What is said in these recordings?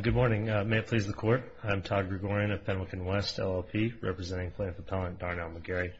Good morning. May it please the Court. I'm Todd Gregorian of Pendleton West, LLP, representing plaintiff appellant Darnell McGarry.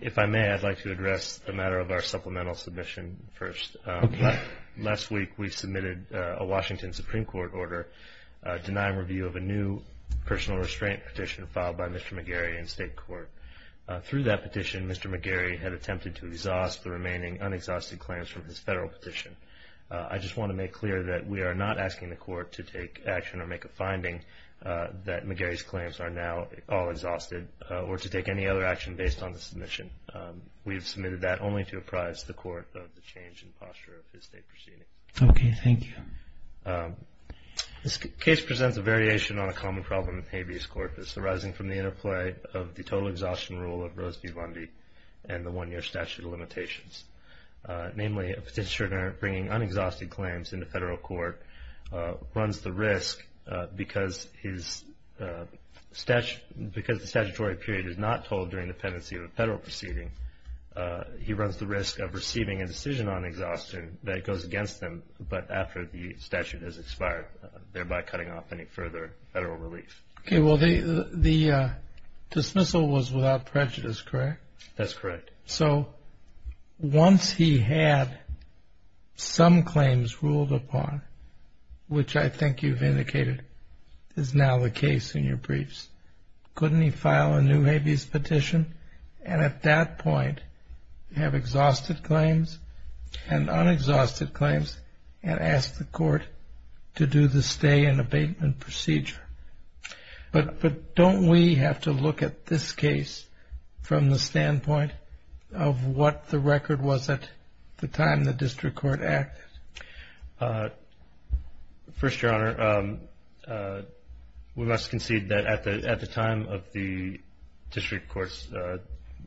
If I may, I'd like to address the matter of our supplemental submission first. Last week, we submitted a Washington Supreme Court order denying review of a new personal restraint petition filed by Mr. McGarry in state court. Through that petition, Mr. McGarry had attempted to exhaust the remaining unexhausted claims from his federal petition. I just want to make clear that we are not asking the Court to take action or make a finding that McGarry's claims are now all exhausted, or to take any other action based on the submission. We have submitted that only to apprise the Court of the change in posture of his state proceeding. Okay, thank you. This case presents a variation on a common problem with habeas corpus arising from the interplay of the total exhaustion rule of Rose v. Lundy and the one-year statute of limitations. Namely, a petitioner bringing unexhausted claims into federal court runs the risk, because the statutory period is not told during the pendency of a federal proceeding, he runs the risk of receiving a decision on exhaustion that goes against them but after the statute has expired, thereby cutting off any further federal relief. Okay, well the dismissal was without prejudice, correct? That's correct. So once he had some claims ruled upon, which I think you've indicated is now the case in your briefs, couldn't he file a new habeas petition and at that point have exhausted claims and unexhausted claims and ask the court to do the stay and abatement procedure? But don't we have to look at this case from the standpoint of what the record was at the time the district court acted? First, Your Honor, we must concede that at the time of the district court's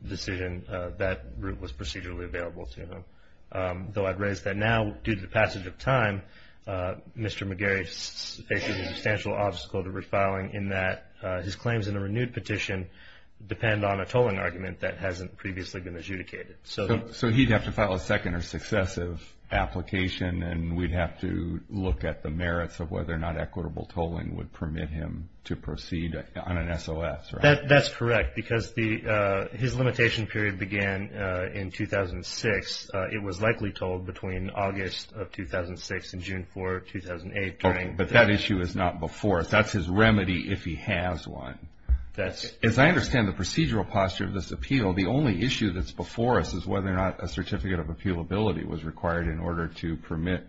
decision, that route was procedurally available to him. Though I'd raise that now, due to the passage of time, Mr. McGarry faces a substantial obstacle to refiling in that his claims in a renewed petition depend on a tolling argument that hasn't previously been adjudicated. So he'd have to file a second or successive application and we'd have to look at the merits of whether or not equitable tolling would permit him to proceed on an SOS, right? That's correct, because his limitation period began in 2006. It was likely tolled between August of 2006 and June 4, 2008. Okay, but that issue is not before us. That's his remedy if he has one. As I understand the procedural posture of this appeal, the only issue that's before us is whether or not a certificate of appealability was required in order to permit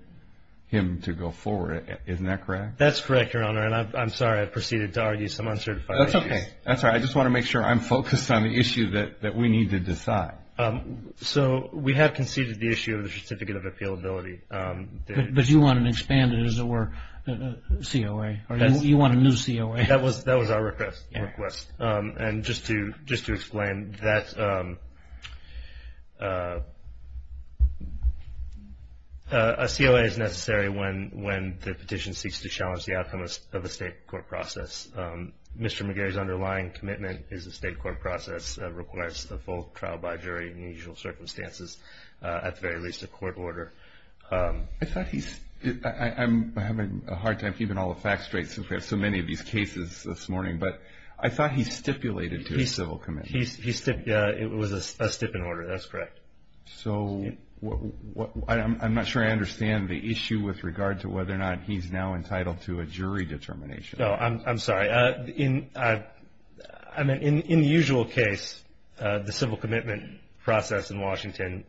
him to go forward. Isn't that correct? That's correct, Your Honor, and I'm sorry. I've proceeded to argue some uncertified issues. That's okay. That's all right. I just want to make sure I'm focused on the issue that we need to decide. So we have conceded the issue of the certificate of appealability. But you want to expand it, as it were, COA. You want a new COA. That was our request. And just to explain, a COA is necessary when the petition seeks to challenge the outcome of the state court process. Mr. McGarry's underlying commitment is the state court process requires the full trial by jury in the usual circumstances, at the very least a court order. I thought he's – I'm having a hard time keeping all the facts straight since we have so many of these cases this morning. But I thought he stipulated to a civil commitment. He stipulated – it was a stipend order. That's correct. So I'm not sure I understand the issue with regard to whether or not he's now entitled to a jury determination. No, I'm sorry. I mean, in the usual case, the civil commitment process in Washington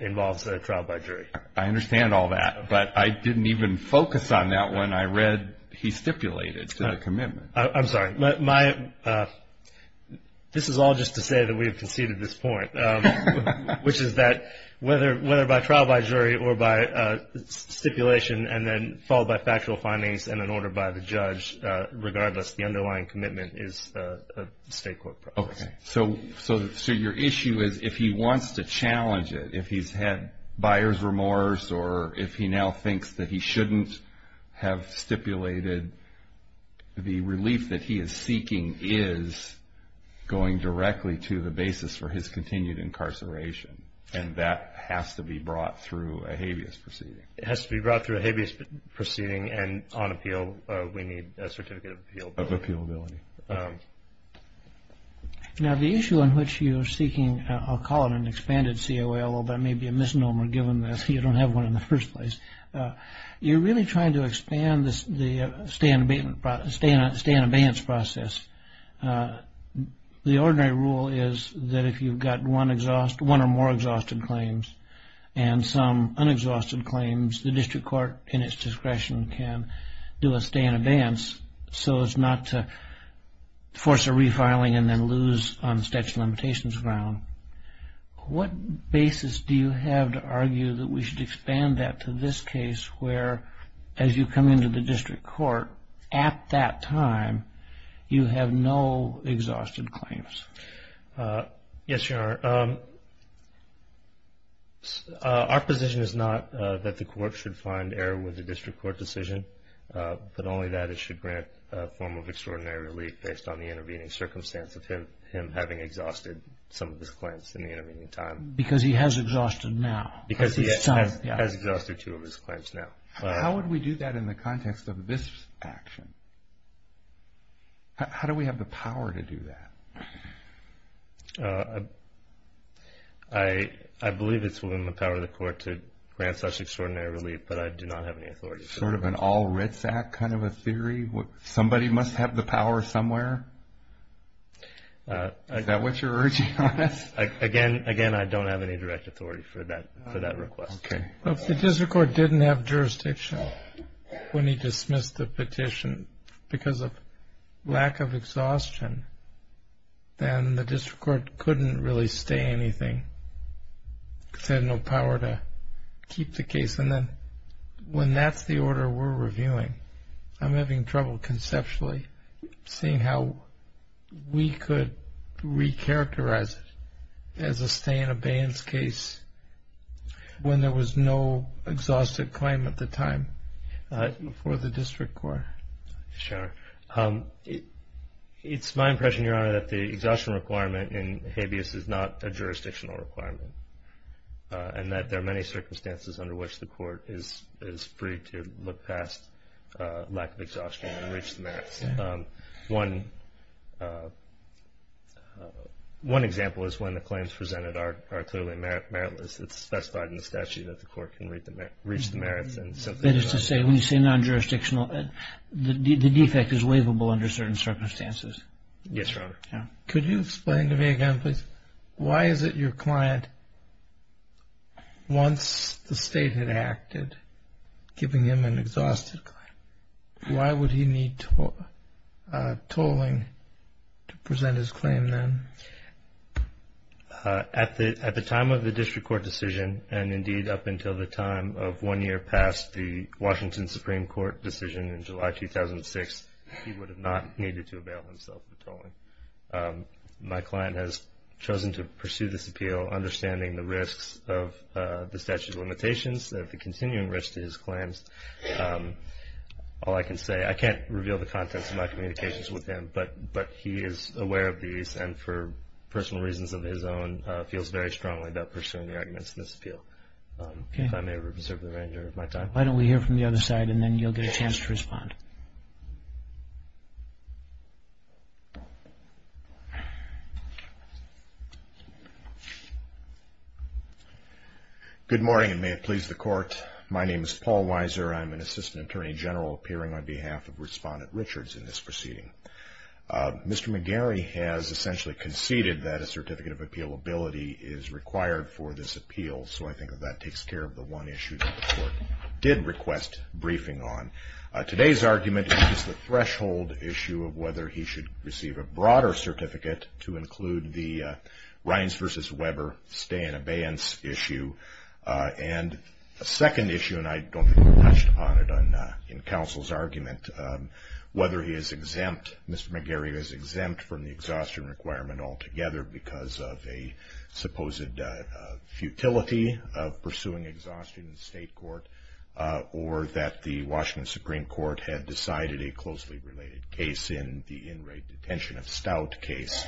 involves a trial by jury. I understand all that. But I didn't even focus on that when I read he stipulated to the commitment. I'm sorry. This is all just to say that we have conceded this point, which is that whether by trial by jury or by stipulation and then followed by factual findings and an order by the judge, regardless, the underlying commitment is the state court process. So your issue is if he wants to challenge it, if he's had buyer's remorse or if he now thinks that he shouldn't have stipulated, the relief that he is seeking is going directly to the basis for his continued incarceration, and that has to be brought through a habeas proceeding. It has to be brought through a habeas proceeding, and on appeal, we need a certificate of appeal. Of appealability. Now, the issue on which you're seeking, I'll call it an expanded COA, although that may be a misnomer given that you don't have one in the first place. You're really trying to expand the stay in abeyance process. The ordinary rule is that if you've got one or more exhausted claims and some unexhausted claims, the district court in its discretion can do a stay in abeyance so as not to force a refiling and then lose on statute of limitations ground. What basis do you have to argue that we should expand that to this case where as you come into the district court, at that time, you have no exhausted claims? Yes, Your Honor. Our position is not that the court should find error with the district court decision, but only that it should grant a form of extraordinary relief based on the intervening circumstance of him having exhausted some of his claims in the intervening time. Because he has exhausted now. Because he has exhausted two of his claims now. How would we do that in the context of this action? How do we have the power to do that? I believe it's within the power of the court to grant such extraordinary relief, but I do not have any authority to do that. Is there sort of an all writs act kind of a theory? Somebody must have the power somewhere? Is that what you're urging on us? Again, I don't have any direct authority for that request. If the district court didn't have jurisdiction when he dismissed the petition because of lack of exhaustion, then the district court couldn't really stay anything because they had no power to keep the case. And then when that's the order we're reviewing, I'm having trouble conceptually seeing how we could recharacterize it as a stay in abeyance case when there was no exhausted claim at the time for the district court. It's my impression, Your Honor, that the exhaustion requirement in habeas is not a jurisdictional requirement and that there are many circumstances under which the court is free to look past lack of exhaustion and reach the merits. One example is when the claims presented are clearly meritless. It's specified in the statute that the court can reach the merits. That is to say, when you say non-jurisdictional, the defect is waivable under certain circumstances. Yes, Your Honor. Could you explain to me again, please, why is it your client, once the state had acted, giving him an exhausted claim, why would he need tolling to present his claim then? At the time of the district court decision, and indeed up until the time of one year past the Washington Supreme Court decision in July 2006, he would have not needed to avail himself of tolling. My client has chosen to pursue this appeal understanding the risks of the statute of limitations, the continuing risk to his claims. All I can say, I can't reveal the contents of my communications with him, but he is aware of these and for personal reasons of his own, feels very strongly about pursuing the arguments in this appeal. If I may reserve the remainder of my time. Why don't we hear from the other side and then you'll get a chance to respond. Good morning and may it please the Court. My name is Paul Weiser. I'm an Assistant Attorney General appearing on behalf of Respondent Richards in this proceeding. Mr. McGarry has essentially conceded that a certificate of appealability is required for this appeal, so I think that that takes care of the one issue that the Court did request briefing on. Today's argument is the threshold issue of whether he should receive a broader certificate to include the Rines v. Weber stay in abeyance issue. And a second issue, and I don't think we touched upon it in counsel's argument, whether he is exempt, Mr. McGarry is exempt from the exhaustion requirement altogether because of a supposed futility of pursuing exhaustion in state court or that the Washington Supreme Court had decided a closely related case in the in-rate detention of Stout case.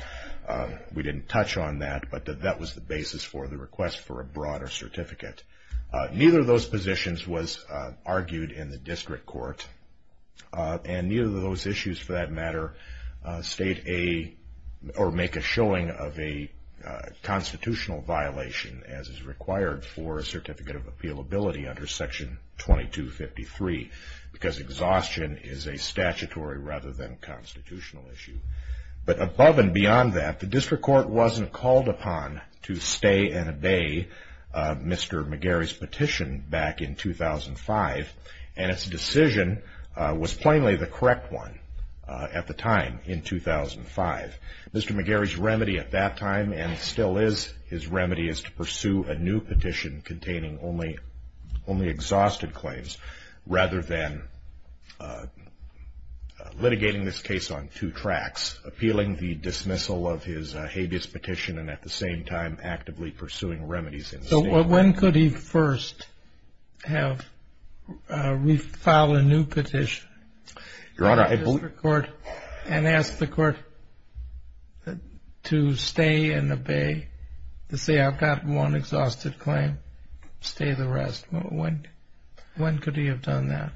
We didn't touch on that, but that was the basis for the request for a broader certificate. Neither of those positions was argued in the district court, and neither of those issues, for that matter, make a showing of a constitutional violation as is required for a certificate of appealability under Section 2253 because exhaustion is a statutory rather than constitutional issue. But above and beyond that, the district court wasn't called upon to stay and obey Mr. McGarry's petition back in 2005, and its decision was plainly the correct one at the time in 2005. Mr. McGarry's remedy at that time and still is his remedy is to pursue a new petition containing only exhausted claims rather than litigating this case on two tracks, appealing the dismissal of his habeas petition and at the same time actively pursuing remedies in state court. But when could he first have refiled a new petition in the district court and ask the court to stay and obey, to say I've got one exhausted claim, stay the rest? When could he have done that?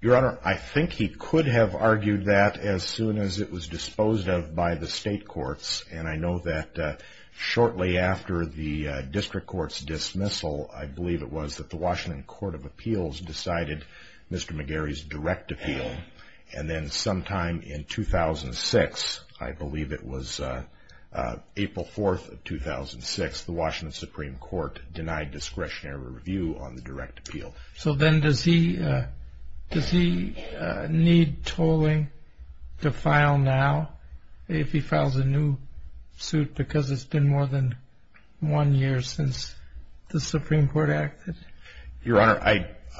Your Honor, I think he could have argued that as soon as it was disposed of by the state courts, and I know that shortly after the district court's dismissal, I believe it was that the Washington Court of Appeals decided Mr. McGarry's direct appeal. And then sometime in 2006, I believe it was April 4th of 2006, the Washington Supreme Court denied discretionary review on the direct appeal. So then does he need tolling to file now if he files a new suit because it's been more than one year since the Supreme Court acted? Your Honor,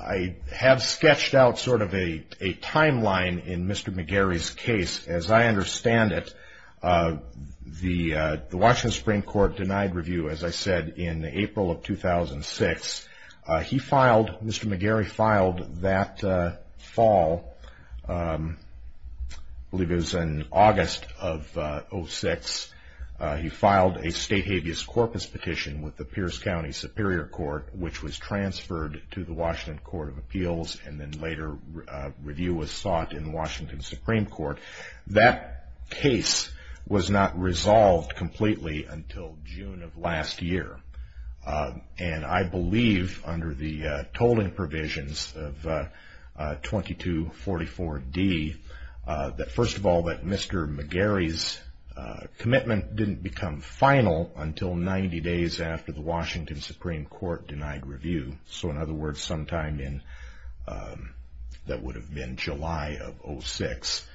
I have sketched out sort of a timeline in Mr. McGarry's case. As I understand it, the Washington Supreme Court denied review, as I said, in April of 2006. He filed, Mr. McGarry filed that fall, I believe it was in August of 2006, he filed a state habeas corpus petition with the Pierce County Superior Court, which was transferred to the Washington Court of Appeals, and then later review was sought in the Washington Supreme Court. That case was not resolved completely until June of last year. And I believe, under the tolling provisions of 2244D, that first of all, that Mr. McGarry's commitment didn't become final until 90 days after the Washington Supreme Court denied review. So in other words, sometime in, that would have been July of 06,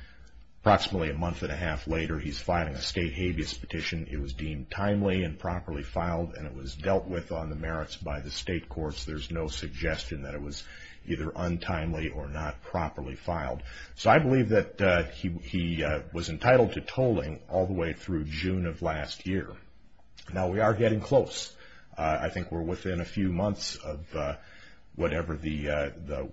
approximately a month and a half later, he's filing a state habeas petition. It was deemed timely and properly filed, and it was dealt with on the merits by the state courts. There's no suggestion that it was either untimely or not properly filed. So I believe that he was entitled to tolling all the way through June of last year. Now we are getting close. I think we're within a few months of whatever the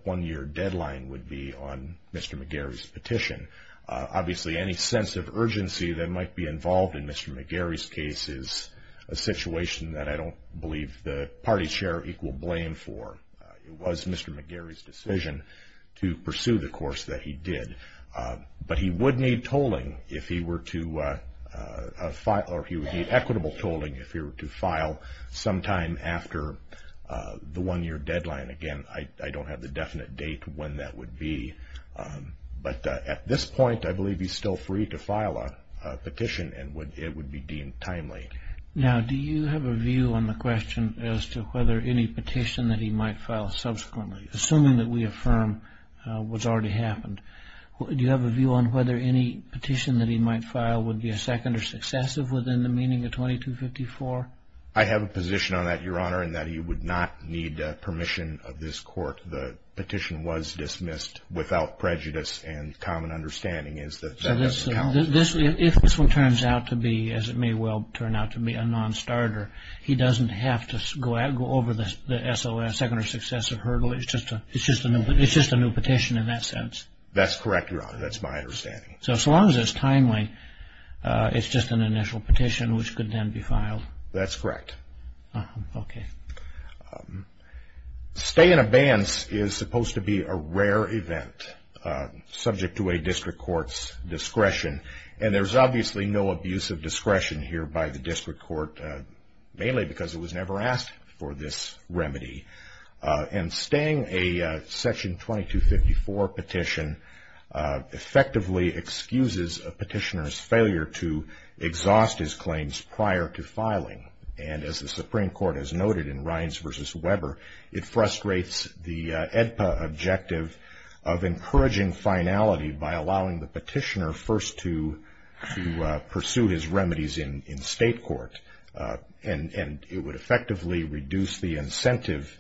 one-year deadline would be on Mr. McGarry's petition. Obviously, any sense of urgency that might be involved in Mr. McGarry's case is a situation that I don't believe the party chair equal blame for. It was Mr. McGarry's decision to pursue the course that he did. But he would need tolling if he were to file, or he would need equitable tolling if he were to file sometime after the one-year deadline. Again, I don't have the definite date when that would be. But at this point, I believe he's still free to file a petition, and it would be deemed timely. Now, do you have a view on the question as to whether any petition that he might file subsequently, assuming that we affirm what's already happened, do you have a view on whether any petition that he might file would be a second or successive within the meaning of 2254? I have a position on that, Your Honor, in that he would not need permission of this court. The petition was dismissed without prejudice and common understanding is that that doesn't count. If this one turns out to be, as it may well turn out to be, a non-starter, he doesn't have to go over the SOS, second or successive hurdle. It's just a new petition in that sense. That's correct, Your Honor. That's my understanding. So as long as it's timely, it's just an initial petition which could then be filed. That's correct. Okay. Staying abeyance is supposed to be a rare event subject to a district court's discretion, and there's obviously no abuse of discretion here by the district court, mainly because it was never asked for this remedy. And staying a Section 2254 petition effectively excuses a petitioner's failure to exhaust his claims prior to filing. And as the Supreme Court has noted in Rines v. Weber, it frustrates the AEDPA objective of encouraging finality by allowing the petitioner first to pursue his remedies in state court. And it would effectively reduce the incentive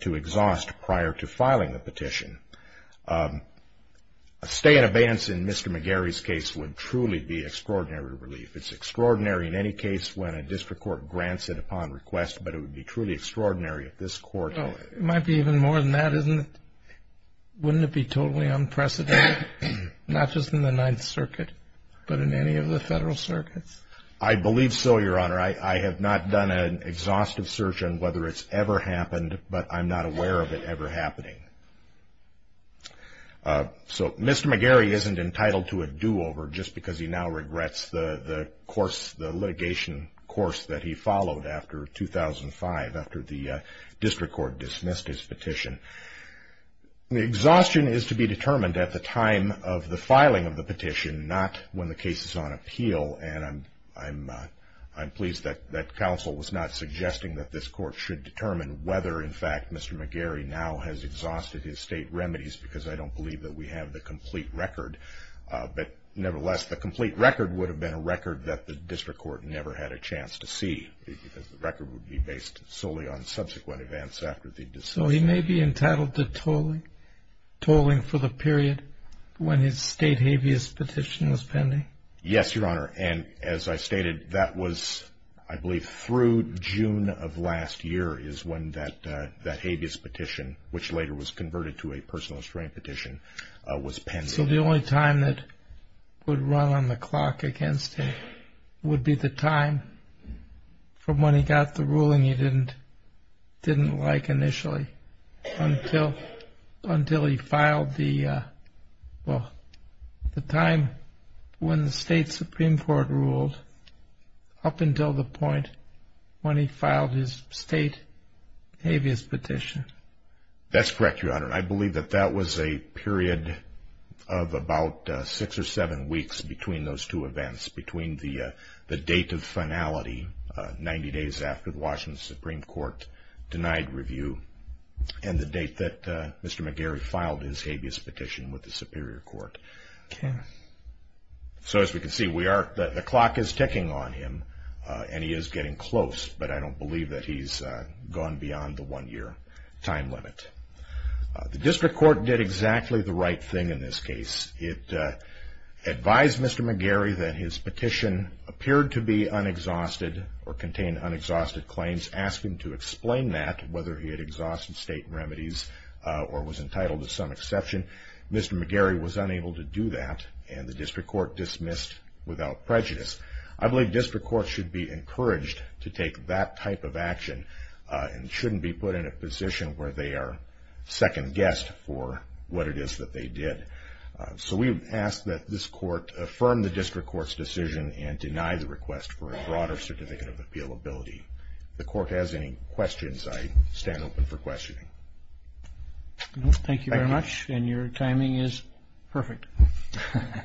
to exhaust prior to filing the petition. Staying abeyance in Mr. McGarry's case would truly be extraordinary relief. It's extraordinary in any case when a district court grants it upon request, but it would be truly extraordinary if this court- Well, it might be even more than that, isn't it? Wouldn't it be totally unprecedented, not just in the Ninth Circuit, but in any of the federal circuits? I believe so, Your Honor. I have not done an exhaustive search on whether it's ever happened, but I'm not aware of it ever happening. So Mr. McGarry isn't entitled to a do-over just because he now regrets the litigation course that he followed after 2005, after the district court dismissed his petition. Exhaustion is to be determined at the time of the filing of the petition, not when the case is on appeal. And I'm pleased that counsel was not suggesting that this court should determine whether, in fact, Mr. McGarry now has exhausted his state remedies because I don't believe that we have the complete record. But nevertheless, the complete record would have been a record that the district court never had a chance to see because the record would be based solely on subsequent events after the dismissal. So he may be entitled to tolling for the period when his state habeas petition was pending? Yes, Your Honor. And as I stated, that was, I believe, through June of last year is when that habeas petition, which later was converted to a personal restraint petition, was pending. So the only time that would run on the clock against him would be the time from when he got the ruling he didn't like initially until he filed the, well, the time when the state Supreme Court ruled up until the point when he filed his state habeas petition. That's correct, Your Honor. I believe that that was a period of about six or seven weeks between those two events, between the date of finality, 90 days after the Washington Supreme Court denied review, and the date that Mr. McGarry filed his habeas petition with the Superior Court. Okay. So as we can see, we are, the clock is ticking on him, and he is getting close, but I don't believe that he's gone beyond the one-year time limit. The district court did exactly the right thing in this case. It advised Mr. McGarry that his petition appeared to be unexhausted or contain unexhausted claims, asked him to explain that, whether he had exhausted state remedies or was entitled to some exception. Mr. McGarry was unable to do that, and the district court dismissed without prejudice. I believe district courts should be encouraged to take that type of action and shouldn't be put in a position where they are second-guessed for what it is that they did. So we ask that this court affirm the district court's decision and deny the request for a broader certificate of appealability. If the court has any questions, I stand open for questioning. Thank you very much, and your timing is perfect. Thank you.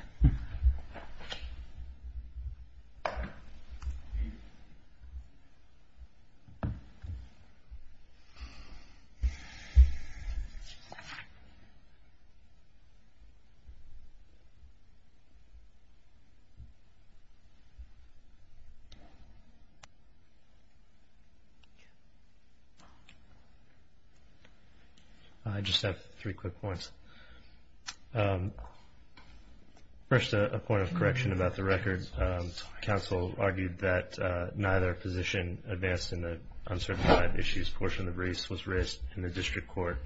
I just have three quick points. First, a point of correction about the record. Council argued that neither position advanced in the uncertain time issues portion of the briefs was raised in the district court.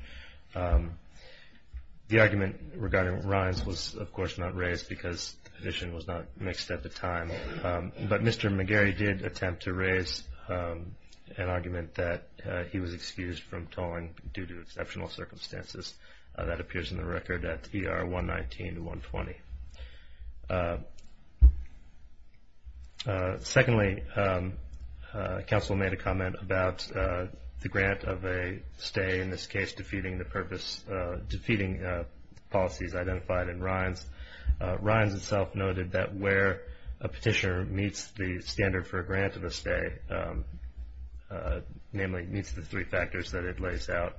The argument regarding Ryan's was, of course, not raised because the position was not mixed at the time. But Mr. McGarry did attempt to raise an argument that he was excused from tolling due to exceptional circumstances. That appears in the record at ER 119 to 120. Secondly, council made a comment about the grant of a stay, in this case defeating the policies identified in Ryan's. Ryan's itself noted that where a petitioner meets the standard for a grant of a stay, namely meets the three factors that it lays out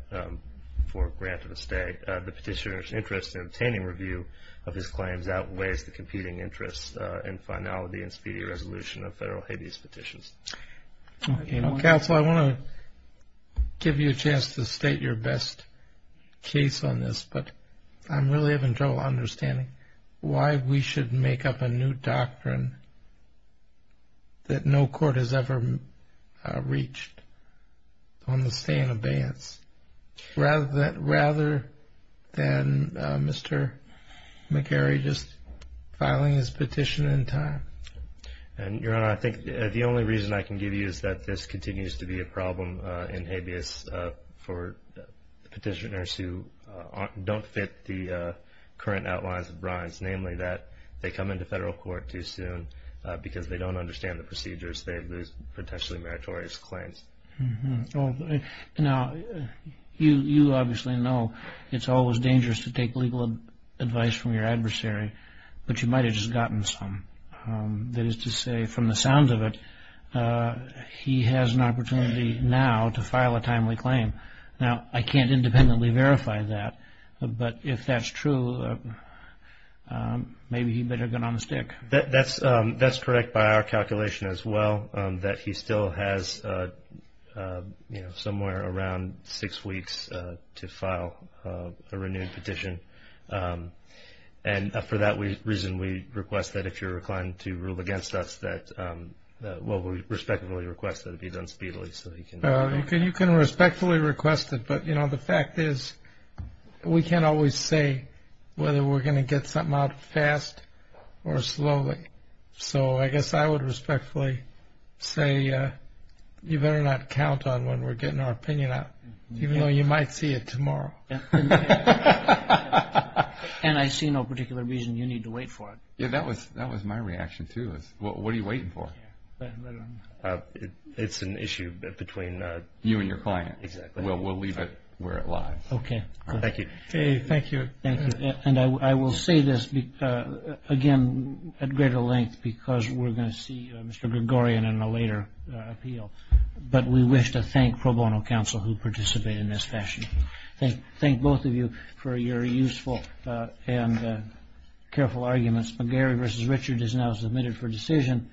for a grant of a stay, the petitioner's interest in obtaining review of his claims outweighs the competing interests in finality and speedy resolution of federal habeas petitions. Council, I want to give you a chance to state your best case on this, but I'm really having trouble understanding why we should make up a new doctrine that no court has ever reached on the stay and abeyance. Rather than Mr. McGarry just filing his petition in time. Your Honor, I think the only reason I can give you is that this continues to be a problem in habeas for petitioners who don't fit the current outlines of Ryan's, namely that they come into federal court too soon because they don't understand the procedures. They lose potentially meritorious claims. Now, you obviously know it's always dangerous to take legal advice from your adversary, but you might have just gotten some. That is to say, from the sounds of it, he has an opportunity now to file a timely claim. Now, I can't independently verify that, but if that's true, maybe he better get on the stick. That's correct by our calculation as well, that he still has somewhere around six weeks to file a renewed petition. And for that reason, we request that if you're reclining to rule against us, that we respectfully request that it be done speedily. You can respectfully request it, but the fact is we can't always say whether we're going to get something out fast or slowly. So I guess I would respectfully say you better not count on when we're getting our opinion out, even though you might see it tomorrow. And I see no particular reason you need to wait for it. Yeah, that was my reaction too. What are you waiting for? It's an issue between you and your client. Exactly. We'll leave it where it lies. Okay. Thank you. Thank you. And I will say this again at greater length because we're going to see Mr. Gregorian in a later appeal, but we wish to thank pro bono counsel who participated in this session. Thank both of you for your useful and careful arguments. McGarry v. Richard is now submitted for decision.